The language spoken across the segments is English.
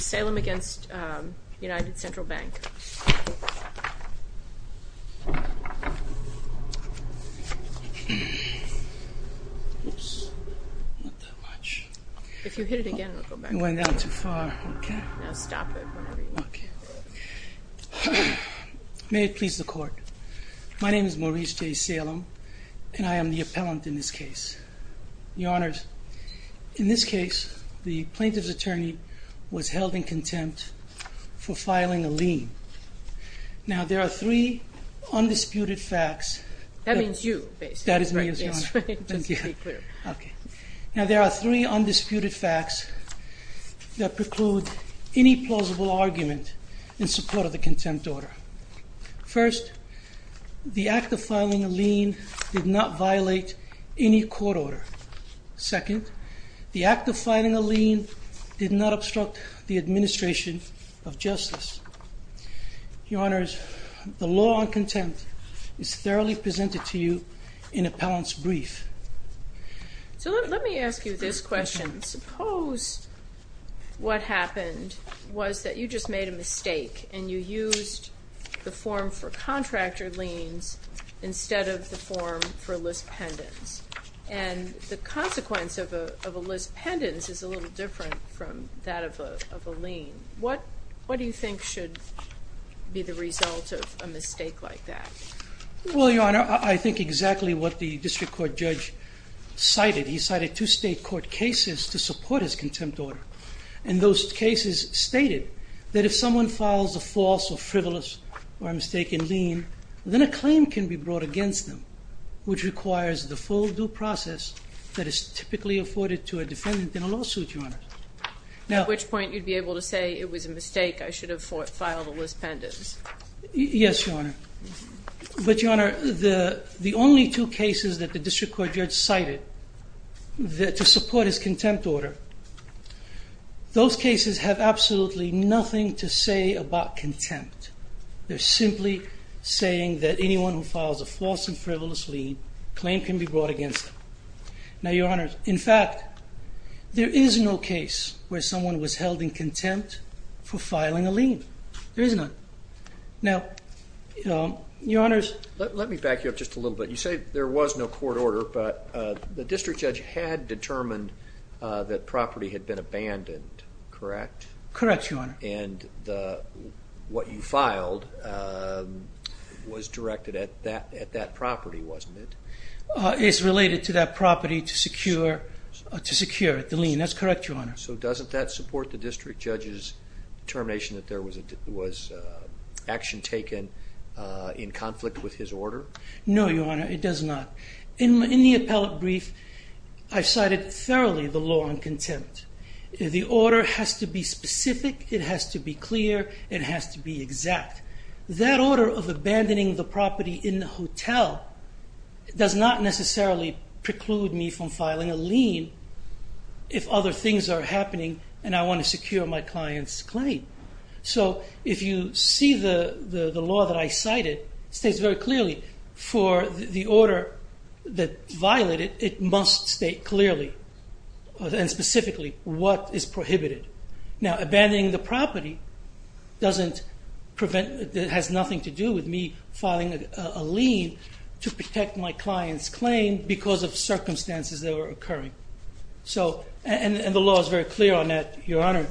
Salem v. United Central Bank May it please the Court. My name is Maurice J. Salem, and I am the appellant in this case. Your Honors, in this case the plaintiff's attorney was held in contempt for filing a lien. Now there are three undisputed facts. That means you, basically. That is me. Okay, now there are three undisputed facts that preclude any plaintiff's plausible argument in support of the contempt order. First, the act of filing a lien did not violate any court order. Second, the act of filing a lien did not obstruct the administration of justice. Your Honors, the law on contempt is thoroughly presented to you in appellant's brief. So let me ask you this question. Suppose what happened was that you just made a mistake and you used the form for contractor liens instead of the form for lis pendens. And the consequence of a lis pendens is a little different from that of a lien. What do you think should be the result of a mistake like that? Well, Your Honor, I think exactly what the district court judge cited. He cited two state court cases to support his contempt order. And those cases stated that if someone files a false or frivolous or a mistaken lien, then a claim can be brought against them, which requires the full due process that is typically afforded to a defendant in a lawsuit, Your Honor. At which point you'd be able to say it was a mistake. I should have filed a lis pendens. Yes, Your Honor. But Your Honor, the only two cases that the district court judge cited to support his contempt order, those cases have absolutely nothing to say about contempt. They're simply saying that anyone who files a false and frivolous lien, claim can be brought against them. Now, Your Honor, in fact, there is no case where someone was held in contempt for filing a lien. There is none. Now, Your Honor's- Let me back you up just a little bit. You say there was no court order, but the district judge had determined that property had been abandoned, correct? Correct, Your Honor. And what you filed was directed at that property, wasn't it? It's related to that property to secure the lien. That's correct, Your Honor. So doesn't that support the district judge's determination that there was action taken in conflict with his order? No, Your Honor, it does not. In the appellate brief, I cited thoroughly the law on contempt. The order has to be specific. It has to be clear. It has to be exact. That order of abandoning the property in the hotel does not necessarily preclude me from filing a lien if other things are happening and I want to secure my client's claim. So if you see the law that I cited, it states very clearly for the order that violated, it must state clearly and specifically what is prohibited. Now, abandoning the property has nothing to do with me filing a lien to protect my client's claim because of circumstances that were occurring. So, and the law is very clear on that, Your Honor.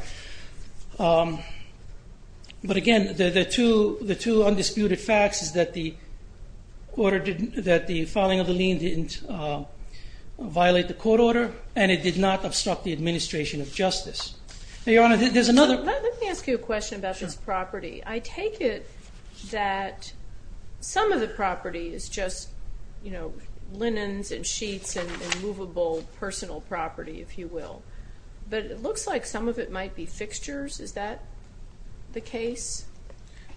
But again, the two undisputed facts is that the order didn't, that the filing of the lien didn't violate the court order and it did not obstruct the administration of justice. Now, Your Honor, there's another... Let me ask you a question about this property. I take it that some of the property is just, you know, linens and sheets and movable personal property, if you will. But it looks like some of it might be fixtures. Is that the case?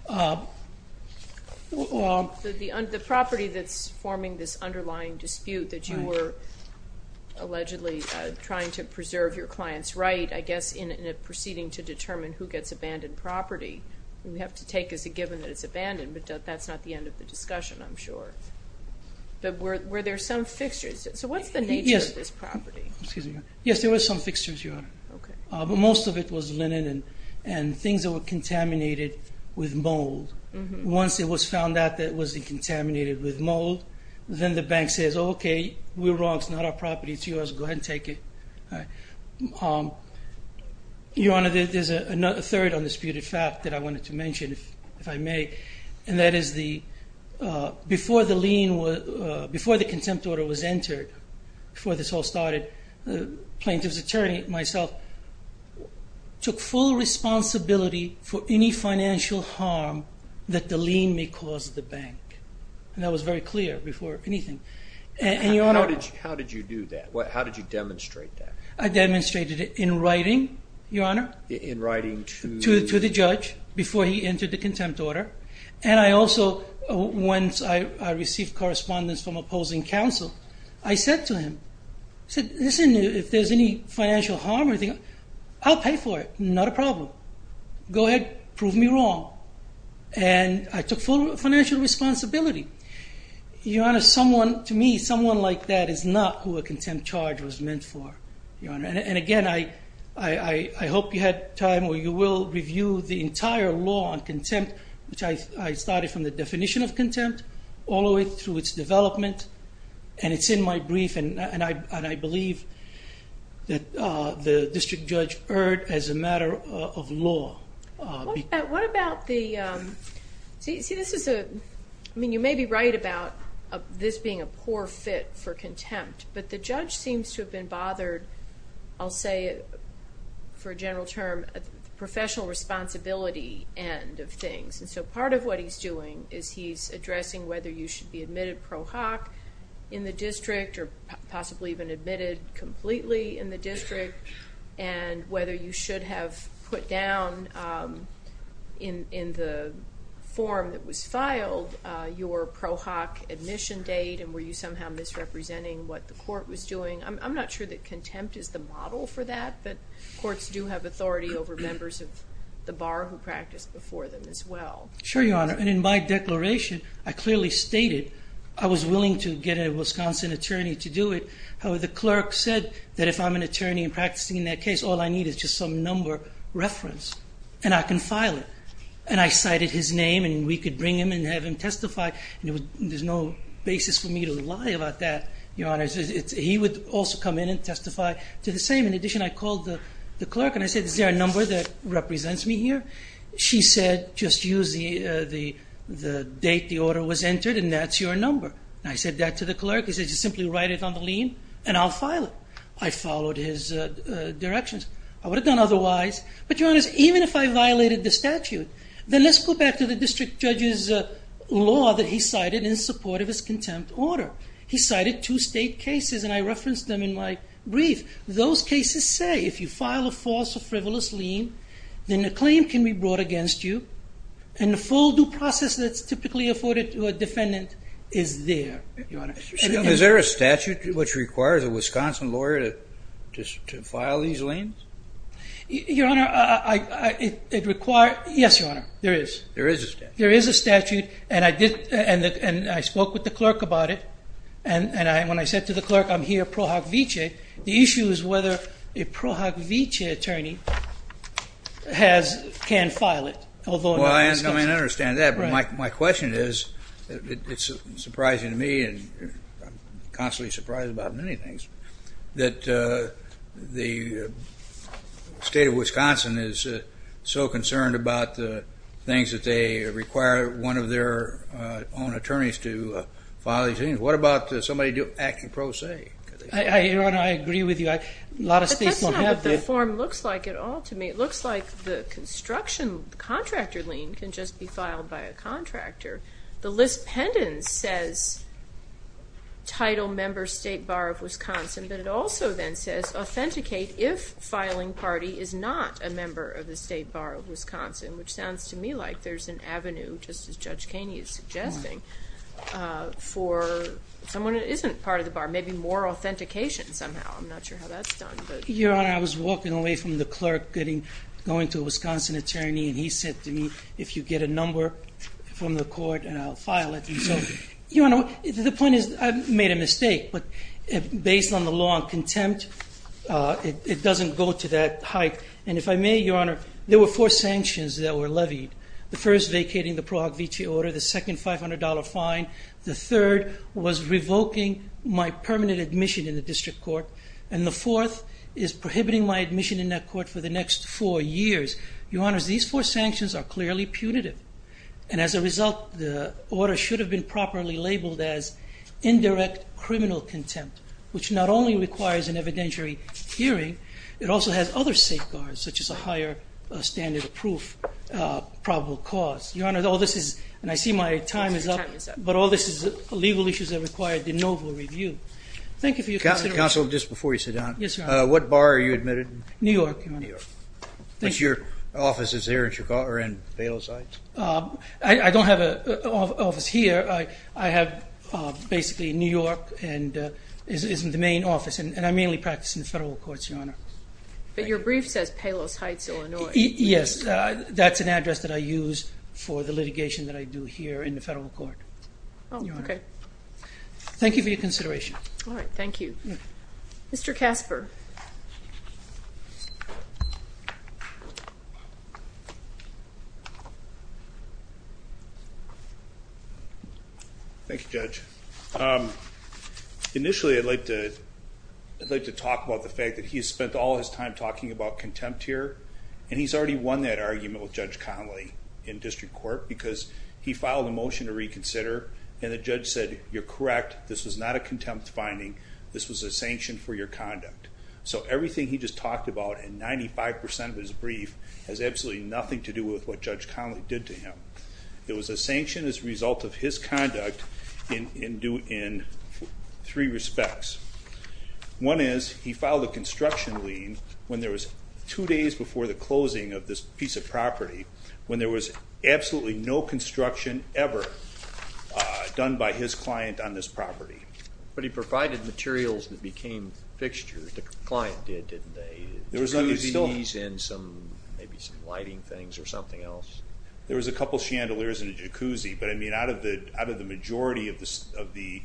The property that's forming this underlying dispute that you were allegedly trying to preserve your client's right, I guess, in a proceeding to determine who gets abandoned property. We have to take as a given that it's abandoned, but that's not the end of the discussion, I'm sure. But were there some fixtures? So what's the nature of this property? Yes, there were some fixtures, Your Honor. Okay. But most of it was linen and things that were contaminated with mold. Once it was found out that it was contaminated with mold, then the bank says, okay, we're wrong, it's not our property, it's yours, go ahead and take it. All right. Your Honor, there's a third undisputed fact that I wanted to mention, if I may, and that is before the contempt order was entered, before this all started, the plaintiff's attorney, myself, took full responsibility for any financial harm that the lien may cause the bank. And that was very clear before anything. And, Your Honor- How did you do that? How did you demonstrate that? I demonstrated it in writing, Your Honor. In writing to- To the judge before he entered the contempt order. And I also, once I received correspondence from opposing counsel, I said to him, I said, listen, if there's any financial harm or anything, I'll pay for it, not a problem. Go ahead, prove me wrong. And I took full financial responsibility. Your Honor, someone, to me, someone like that is not who a contempt charge was meant for, Your Honor. And again, I hope you had time, or you will, review the entire law on contempt, which I started from the definition of contempt, all the way through its development, and it's in my brief, and I believe that the district judge heard as a matter of law. What about the, see, this is a, I mean, you may be right about this being a poor fit for contempt, but the judge seems to have been bothered, I'll say for a general term, the professional responsibility end of things. And so part of what he's doing is he's addressing whether you should be admitted pro hoc in the district, or possibly even admitted completely in the district, and whether you should have put down in the form that was filed your pro hoc admission date, and were you somehow misrepresenting what the court was doing. I'm not sure that contempt is the model for that, but courts do have authority over members of the bar who practice before them as well. Sure, Your Honor, and in my declaration, I clearly stated I was willing to get a Wisconsin attorney to do it. However, the clerk said that if I'm an attorney and practicing in that case, all I need is just some number reference, and I can file it. And I cited his name, and we could bring him and have him testify, and there's no basis for me to lie about that, Your Honor. He would also come in and testify to the same. In addition, I called the clerk, and I said, is there a number that represents me here? She said, just use the date the order was entered, and that's your number. And I said that to the clerk. He said, just simply write it on the lien, and I'll file it. I followed his directions. I would have done otherwise, but Your Honor, even if I violated the statute, then let's go back to the district judge's law that he cited in support of his contempt order. He cited two state cases, and I referenced them in my brief. Those cases say, if you file a false or frivolous lien, then the claim can be brought against you. And the full due process that's typically afforded to a defendant is there, Your Honor. Is there a statute which requires a Wisconsin lawyer to file these liens? Your Honor, it requires, yes, Your Honor, there is. There is a statute. There is a statute, and I spoke with the clerk about it. And when I said to the clerk, I'm here, Pro Hoc Vitae. The issue is whether a Pro Hoc Vitae attorney can file it. Well, I understand that, but my question is, it's surprising to me, and I'm constantly surprised about many things, that the state of Wisconsin is so concerned about the things that they require one of their own attorneys to file these liens. What about somebody acting pro se? Your Honor, I agree with you. A lot of states won't have to. That's not what the form looks like at all to me. It looks like the construction contractor lien can just be filed by a contractor. The list pendants says title member state bar of Wisconsin, but it also then says authenticate if filing party is not a member of the state bar of Wisconsin, which sounds to me like there's an avenue, just as Judge Kaney is suggesting, for someone that isn't part of the bar, maybe more authentication somehow. I'm not sure how that's done, but- Going to a Wisconsin attorney, and he said to me, if you get a number from the court, and I'll file it. Your Honor, the point is, I've made a mistake, but based on the law of contempt, it doesn't go to that height. And if I may, Your Honor, there were four sanctions that were levied. The first vacating the Pro Hoc Vitae order, the second $500 fine. The third was revoking my permanent admission in the district court. And the fourth is prohibiting my admission in that court for the next four years. Your Honor, these four sanctions are clearly punitive. And as a result, the order should have been properly labeled as indirect criminal contempt, which not only requires an evidentiary hearing, it also has other safeguards, such as a higher standard of proof, probable cause. Your Honor, all this is, and I see my time is up, but all this is legal issues that require de novo review. Thank you for your consideration. Counsel, just before you sit down, what bar are you admitted in? New York, Your Honor. But your office is there in Palos Heights? I don't have an office here. I have basically New York and is in the main office, and I mainly practice in the federal courts, Your Honor. But your brief says Palos Heights, Illinois. Yes, that's an address that I use for the litigation that I do here in the federal court. Oh, okay. Thank you for your consideration. All right, thank you. Mr. Casper. Thank you, Judge. Initially, I'd like to talk about the fact that he has spent all his time talking about contempt here. And he's already won that argument with Judge Connolly in district court, because he filed a motion to reconsider, and the judge said, you're correct. This was not a contempt finding. This was a sanction for your conduct. So everything he just talked about in 95% of his brief has absolutely nothing to do with what Judge Connolly did to him. It was a sanction as a result of his conduct in three respects. One is, he filed a construction lien when there was two days before the closing of this piece of property, when there was absolutely no construction ever done by his client on this property. But he provided materials that became fixtures. The client did, didn't they? Jacuzzis and maybe some lighting things or something else. There was a couple chandeliers and a jacuzzi. But I mean, out of the majority of the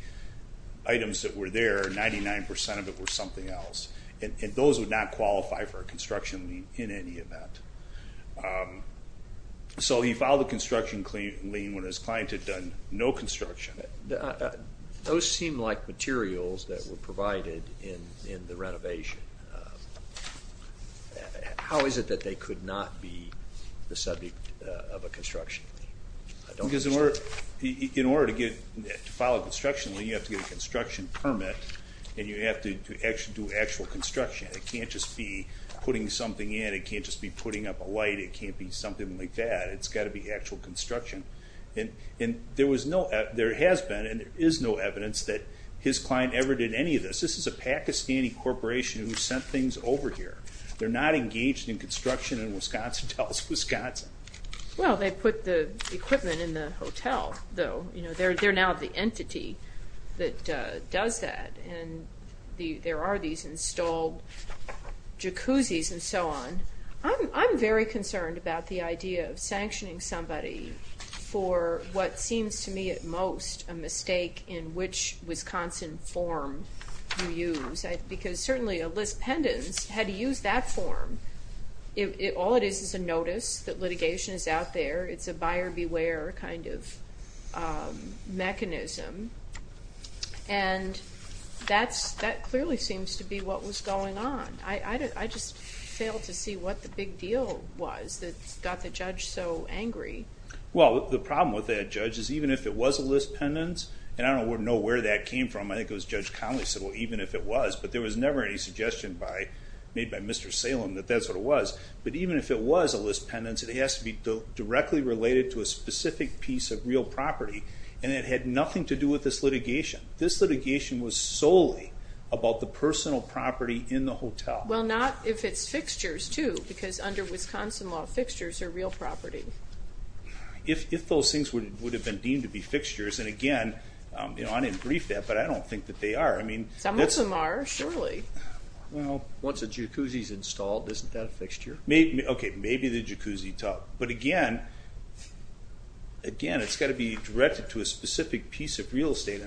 items that were there, 99% of it were something else. And those would not qualify for a construction lien in any event. So he filed a construction lien when his client had done no construction. Those seem like materials that were provided in the renovation. How is it that they could not be the subject of a construction lien? In order to file a construction lien, you have to get a construction permit, and you have to actually do actual construction. It can't just be putting something in. It can't just be putting up a light. It can't be something like that. It's got to be actual construction. And there was no, there has been, and there is no evidence that his client ever did any of this. This is a Pakistani corporation who sent things over here. They're not engaged in construction in Wisconsin, Dallas, Wisconsin. Well, they put the equipment in the hotel, though. You know, they're now the entity that does that. And there are these installed jacuzzis and so on. I'm very concerned about the idea of sanctioning somebody for what seems to me at most a mistake in which Wisconsin form you use. Because certainly, a Liz Pendens had to use that form. All it is is a notice that litigation is out there. It's a buyer beware kind of mechanism. And that clearly seems to be what was going on. I just failed to see what the big deal was that got the judge so angry. Well, the problem with that, Judge, is even if it was a Liz Pendens, and I don't know where that came from. I think it was Judge Conley said, well, even if it was. But there was never any suggestion made by Mr. Salem that that's what it was. But even if it was a Liz Pendens, it has to be directly related to a specific piece of real property. And it had nothing to do with this litigation. This litigation was solely about the personal property in the hotel. Well, not if it's fixtures, too. Because under Wisconsin law, fixtures are real property. If those things would have been deemed to be fixtures, and again, I didn't brief that, but I don't think that they are. I mean, that's... Some of them are, surely. Well, once a jacuzzi is installed, isn't that a fixture? Okay, maybe the jacuzzi tub. But again, it's got to be directed to a specific piece of real estate.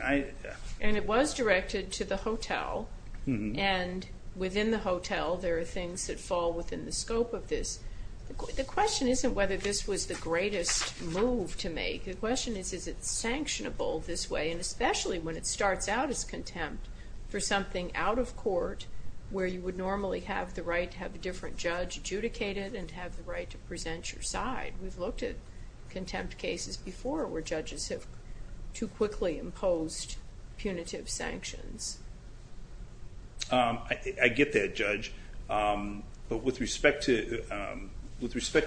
And it was directed to the hotel. And within the hotel, there are things that fall within the scope of this. The question isn't whether this was the greatest move to make. The question is, is it sanctionable this way? And especially when it starts out as contempt for something out of court, where you would normally have the right to have a different judge adjudicate it, and have the right to present your side. We've looked at contempt cases before, where judges have too quickly imposed punitive sanctions. I get that, Judge. But with respect to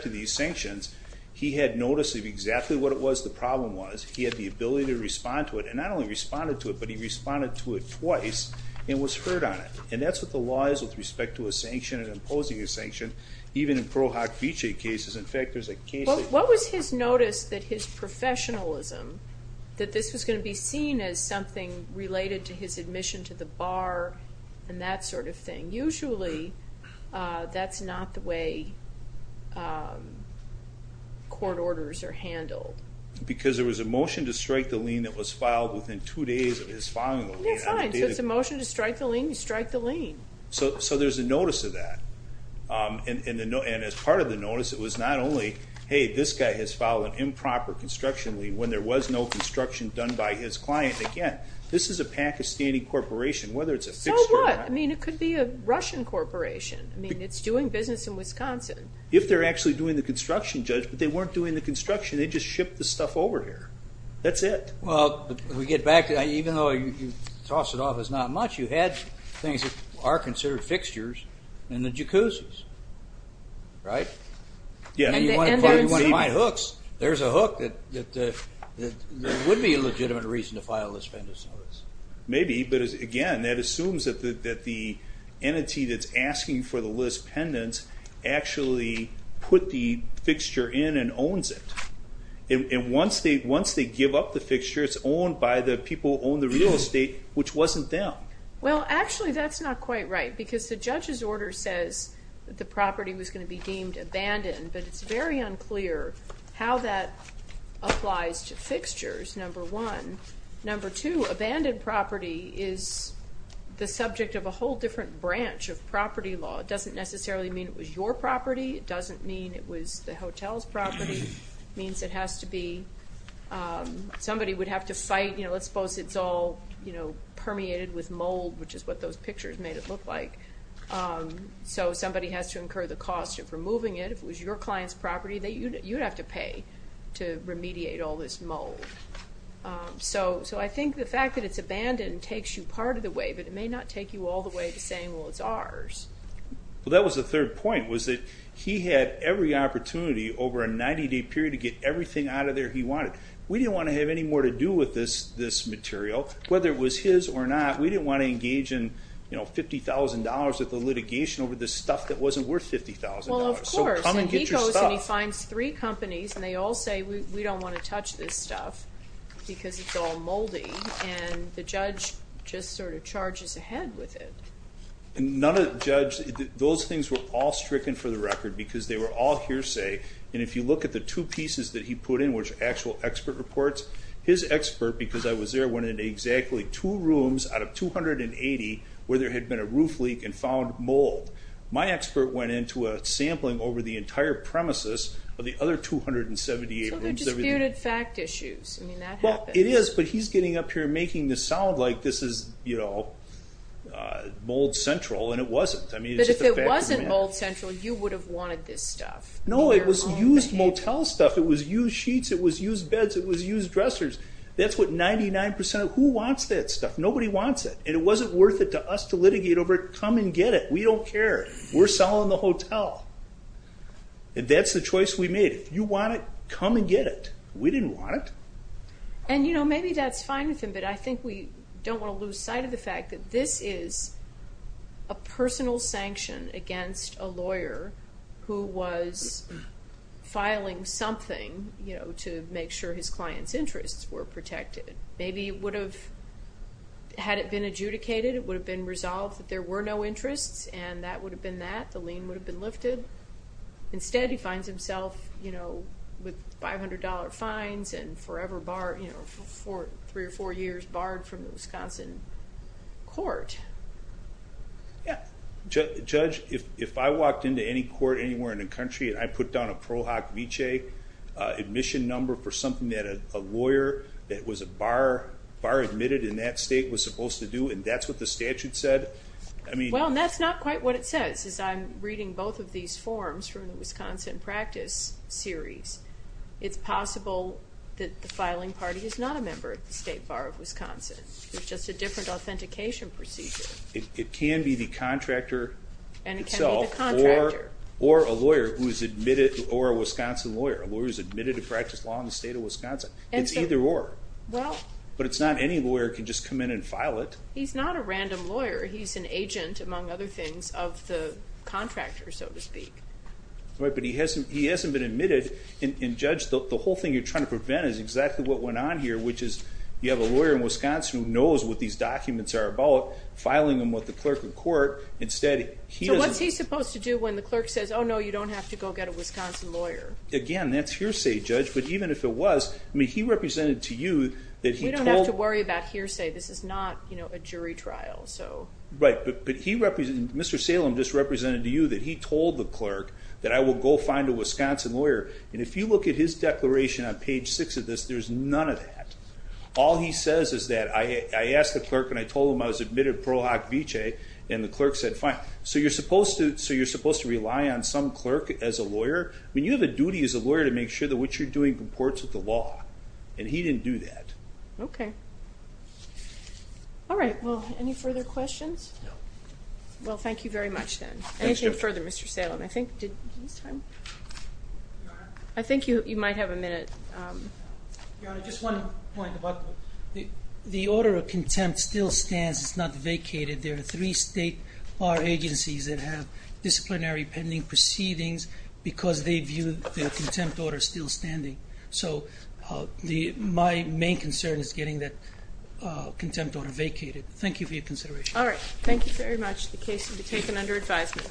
these sanctions, he had notice of exactly what it was the problem was. He had the ability to respond to it. And not only responded to it, but he responded to it twice and was heard on it. And that's what the law is with respect to a sanction and imposing a sanction. Even in Pearlhawk Beechay cases, in fact, there's a case that- What was his notice that his professionalism, that this was going to be seen as something related to his admission to the bar, and that sort of thing? Usually, that's not the way court orders are handled. Because there was a motion to strike the lien that was filed within two days of his filing the lien. Yeah, fine. So it's a motion to strike the lien, you strike the lien. So there's a notice of that. And as part of the notice, it was not only, hey, this guy has filed an improper construction lien when there was no construction done by his client. Again, this is a Pakistani corporation, whether it's a fixed- So what? I mean, it could be a Russian corporation. I mean, it's doing business in Wisconsin. If they're actually doing the construction, Judge, but they weren't doing the construction, they just shipped the stuff over here. That's it. Well, we get back to that. Even though you toss it off as not much, you had things that are considered fixtures. And the jacuzzis, right? Yeah. And you want to find hooks. There's a hook that would be a legitimate reason to file a list pendants notice. Maybe, but again, that assumes that the entity that's asking for the list pendants actually put the fixture in and owns it. And once they give up the fixture, it's owned by the people who own the real estate, which wasn't them. Well, actually, that's not quite right. Because the judge's order says that the property was going to be deemed abandoned, but it's very unclear how that applies to fixtures, number one. Number two, abandoned property is the subject of a whole different branch of property law. It doesn't necessarily mean it was your property. It doesn't mean it was the hotel's property. It means it has to be- somebody would have to fight. Let's suppose it's all permeated with mold, which is what those pictures made it look like. So somebody has to incur the cost of removing it. If it was your client's property, you'd have to pay to remediate all this mold. So I think the fact that it's abandoned takes you part of the way, but it may not take you all the way to saying, well, it's ours. Well, that was the third point, was that he had every opportunity over a 90-day period to get everything out of there he wanted. We didn't want to have any more to do with this material, whether it was his or not. We didn't want to engage in $50,000 worth of litigation over this stuff that wasn't worth $50,000. Well, of course, and he goes and he finds three companies, and they all say, we don't want to touch this stuff because it's all moldy, and the judge just sort of charges ahead with it. None of the judge- those things were all stricken for the record because they were all hearsay, and if you look at the two pieces that he put in, which are actual expert reports, his expert, because I was there, went into exactly two rooms out of 280 where there had been a roof leak and found mold. My expert went into a sampling over the entire premises of the other 278 rooms. So they're disputed fact issues. I mean, that happens. Well, it is, but he's getting up here and making this sound like this is mold central, and it wasn't. I mean, it's just a fact. But if it wasn't mold central, you would have wanted this stuff. No, it was used motel stuff. It was used sheets. It was used beds. It was used dressers. That's what 99% of- who wants that stuff? Nobody wants it, and it wasn't worth it to us to litigate over it. Come and get it. We don't care. We're selling the hotel, and that's the choice we made. If you want it, come and get it. We didn't want it. And, you know, maybe that's fine with him, but I think we don't want to lose sight of the fact that this is a personal sanction against a lawyer who was filing something, you know, to make sure his client's interests were protected. Maybe it would have- had it been adjudicated, it would have been resolved that there were no interests, and that would have been that. The lien would have been lifted. Instead, he finds himself, you know, with $500 fines and forever bar- you know, for three or four years barred from the Wisconsin court. Yeah. Judge, if I walked into any court anywhere in the country, and I put down a pro hoc viche admission number for something that a lawyer that was a bar- bar admitted in that state was supposed to do, and that's what the statute said, I mean- Well, and that's not quite what it says, as I'm reading both of these forms from the Wisconsin practice series. It's possible that the filing party is not a member of the state bar of Wisconsin. There's just a different authentication procedure. It can be the contractor itself- And it can be the contractor. Or a lawyer who's admitted- or a Wisconsin lawyer. A lawyer who's admitted to practice law in the state of Wisconsin. It's either or. Well- But it's not any lawyer can just come in and file it. He's not a random lawyer. He's an agent, among other things, of the contractor, so to speak. Right, but he hasn't- he hasn't been admitted. And Judge, the whole thing you're trying to prevent is exactly what went on here, which is you have a lawyer in Wisconsin who knows what these documents are about, filing them with the clerk of court. Instead, he doesn't- So what's he supposed to do when the clerk says, oh, no, you don't have to go get a Wisconsin lawyer? Again, that's hearsay, Judge. But even if it was, I mean, he represented to you that he told- We don't have to worry about hearsay. This is not, you know, a jury trial. So- Right. Mr. Salem just represented to you that he told the clerk that I will go find a Wisconsin lawyer. And if you look at his declaration on page six of this, there's none of that. All he says is that I asked the clerk and I told him I was admitted pro hoc vicee and the clerk said, fine. So you're supposed to- so you're supposed to rely on some clerk as a lawyer. I mean, you have a duty as a lawyer to make sure that what you're doing comports with the law. And he didn't do that. Okay. All right. Well, any further questions? No. Well, thank you very much, then. Anything further, Mr. Salem? I think- did- this time? I think you might have a minute. Your Honor, just one point about- the order of contempt still stands. It's not vacated. There are three state bar agencies that have disciplinary pending proceedings because they view the contempt order still standing. So the- my main concern is getting that contempt order vacated. Thank you for your consideration. All right. Thank you very much. The case will be taken under advisement.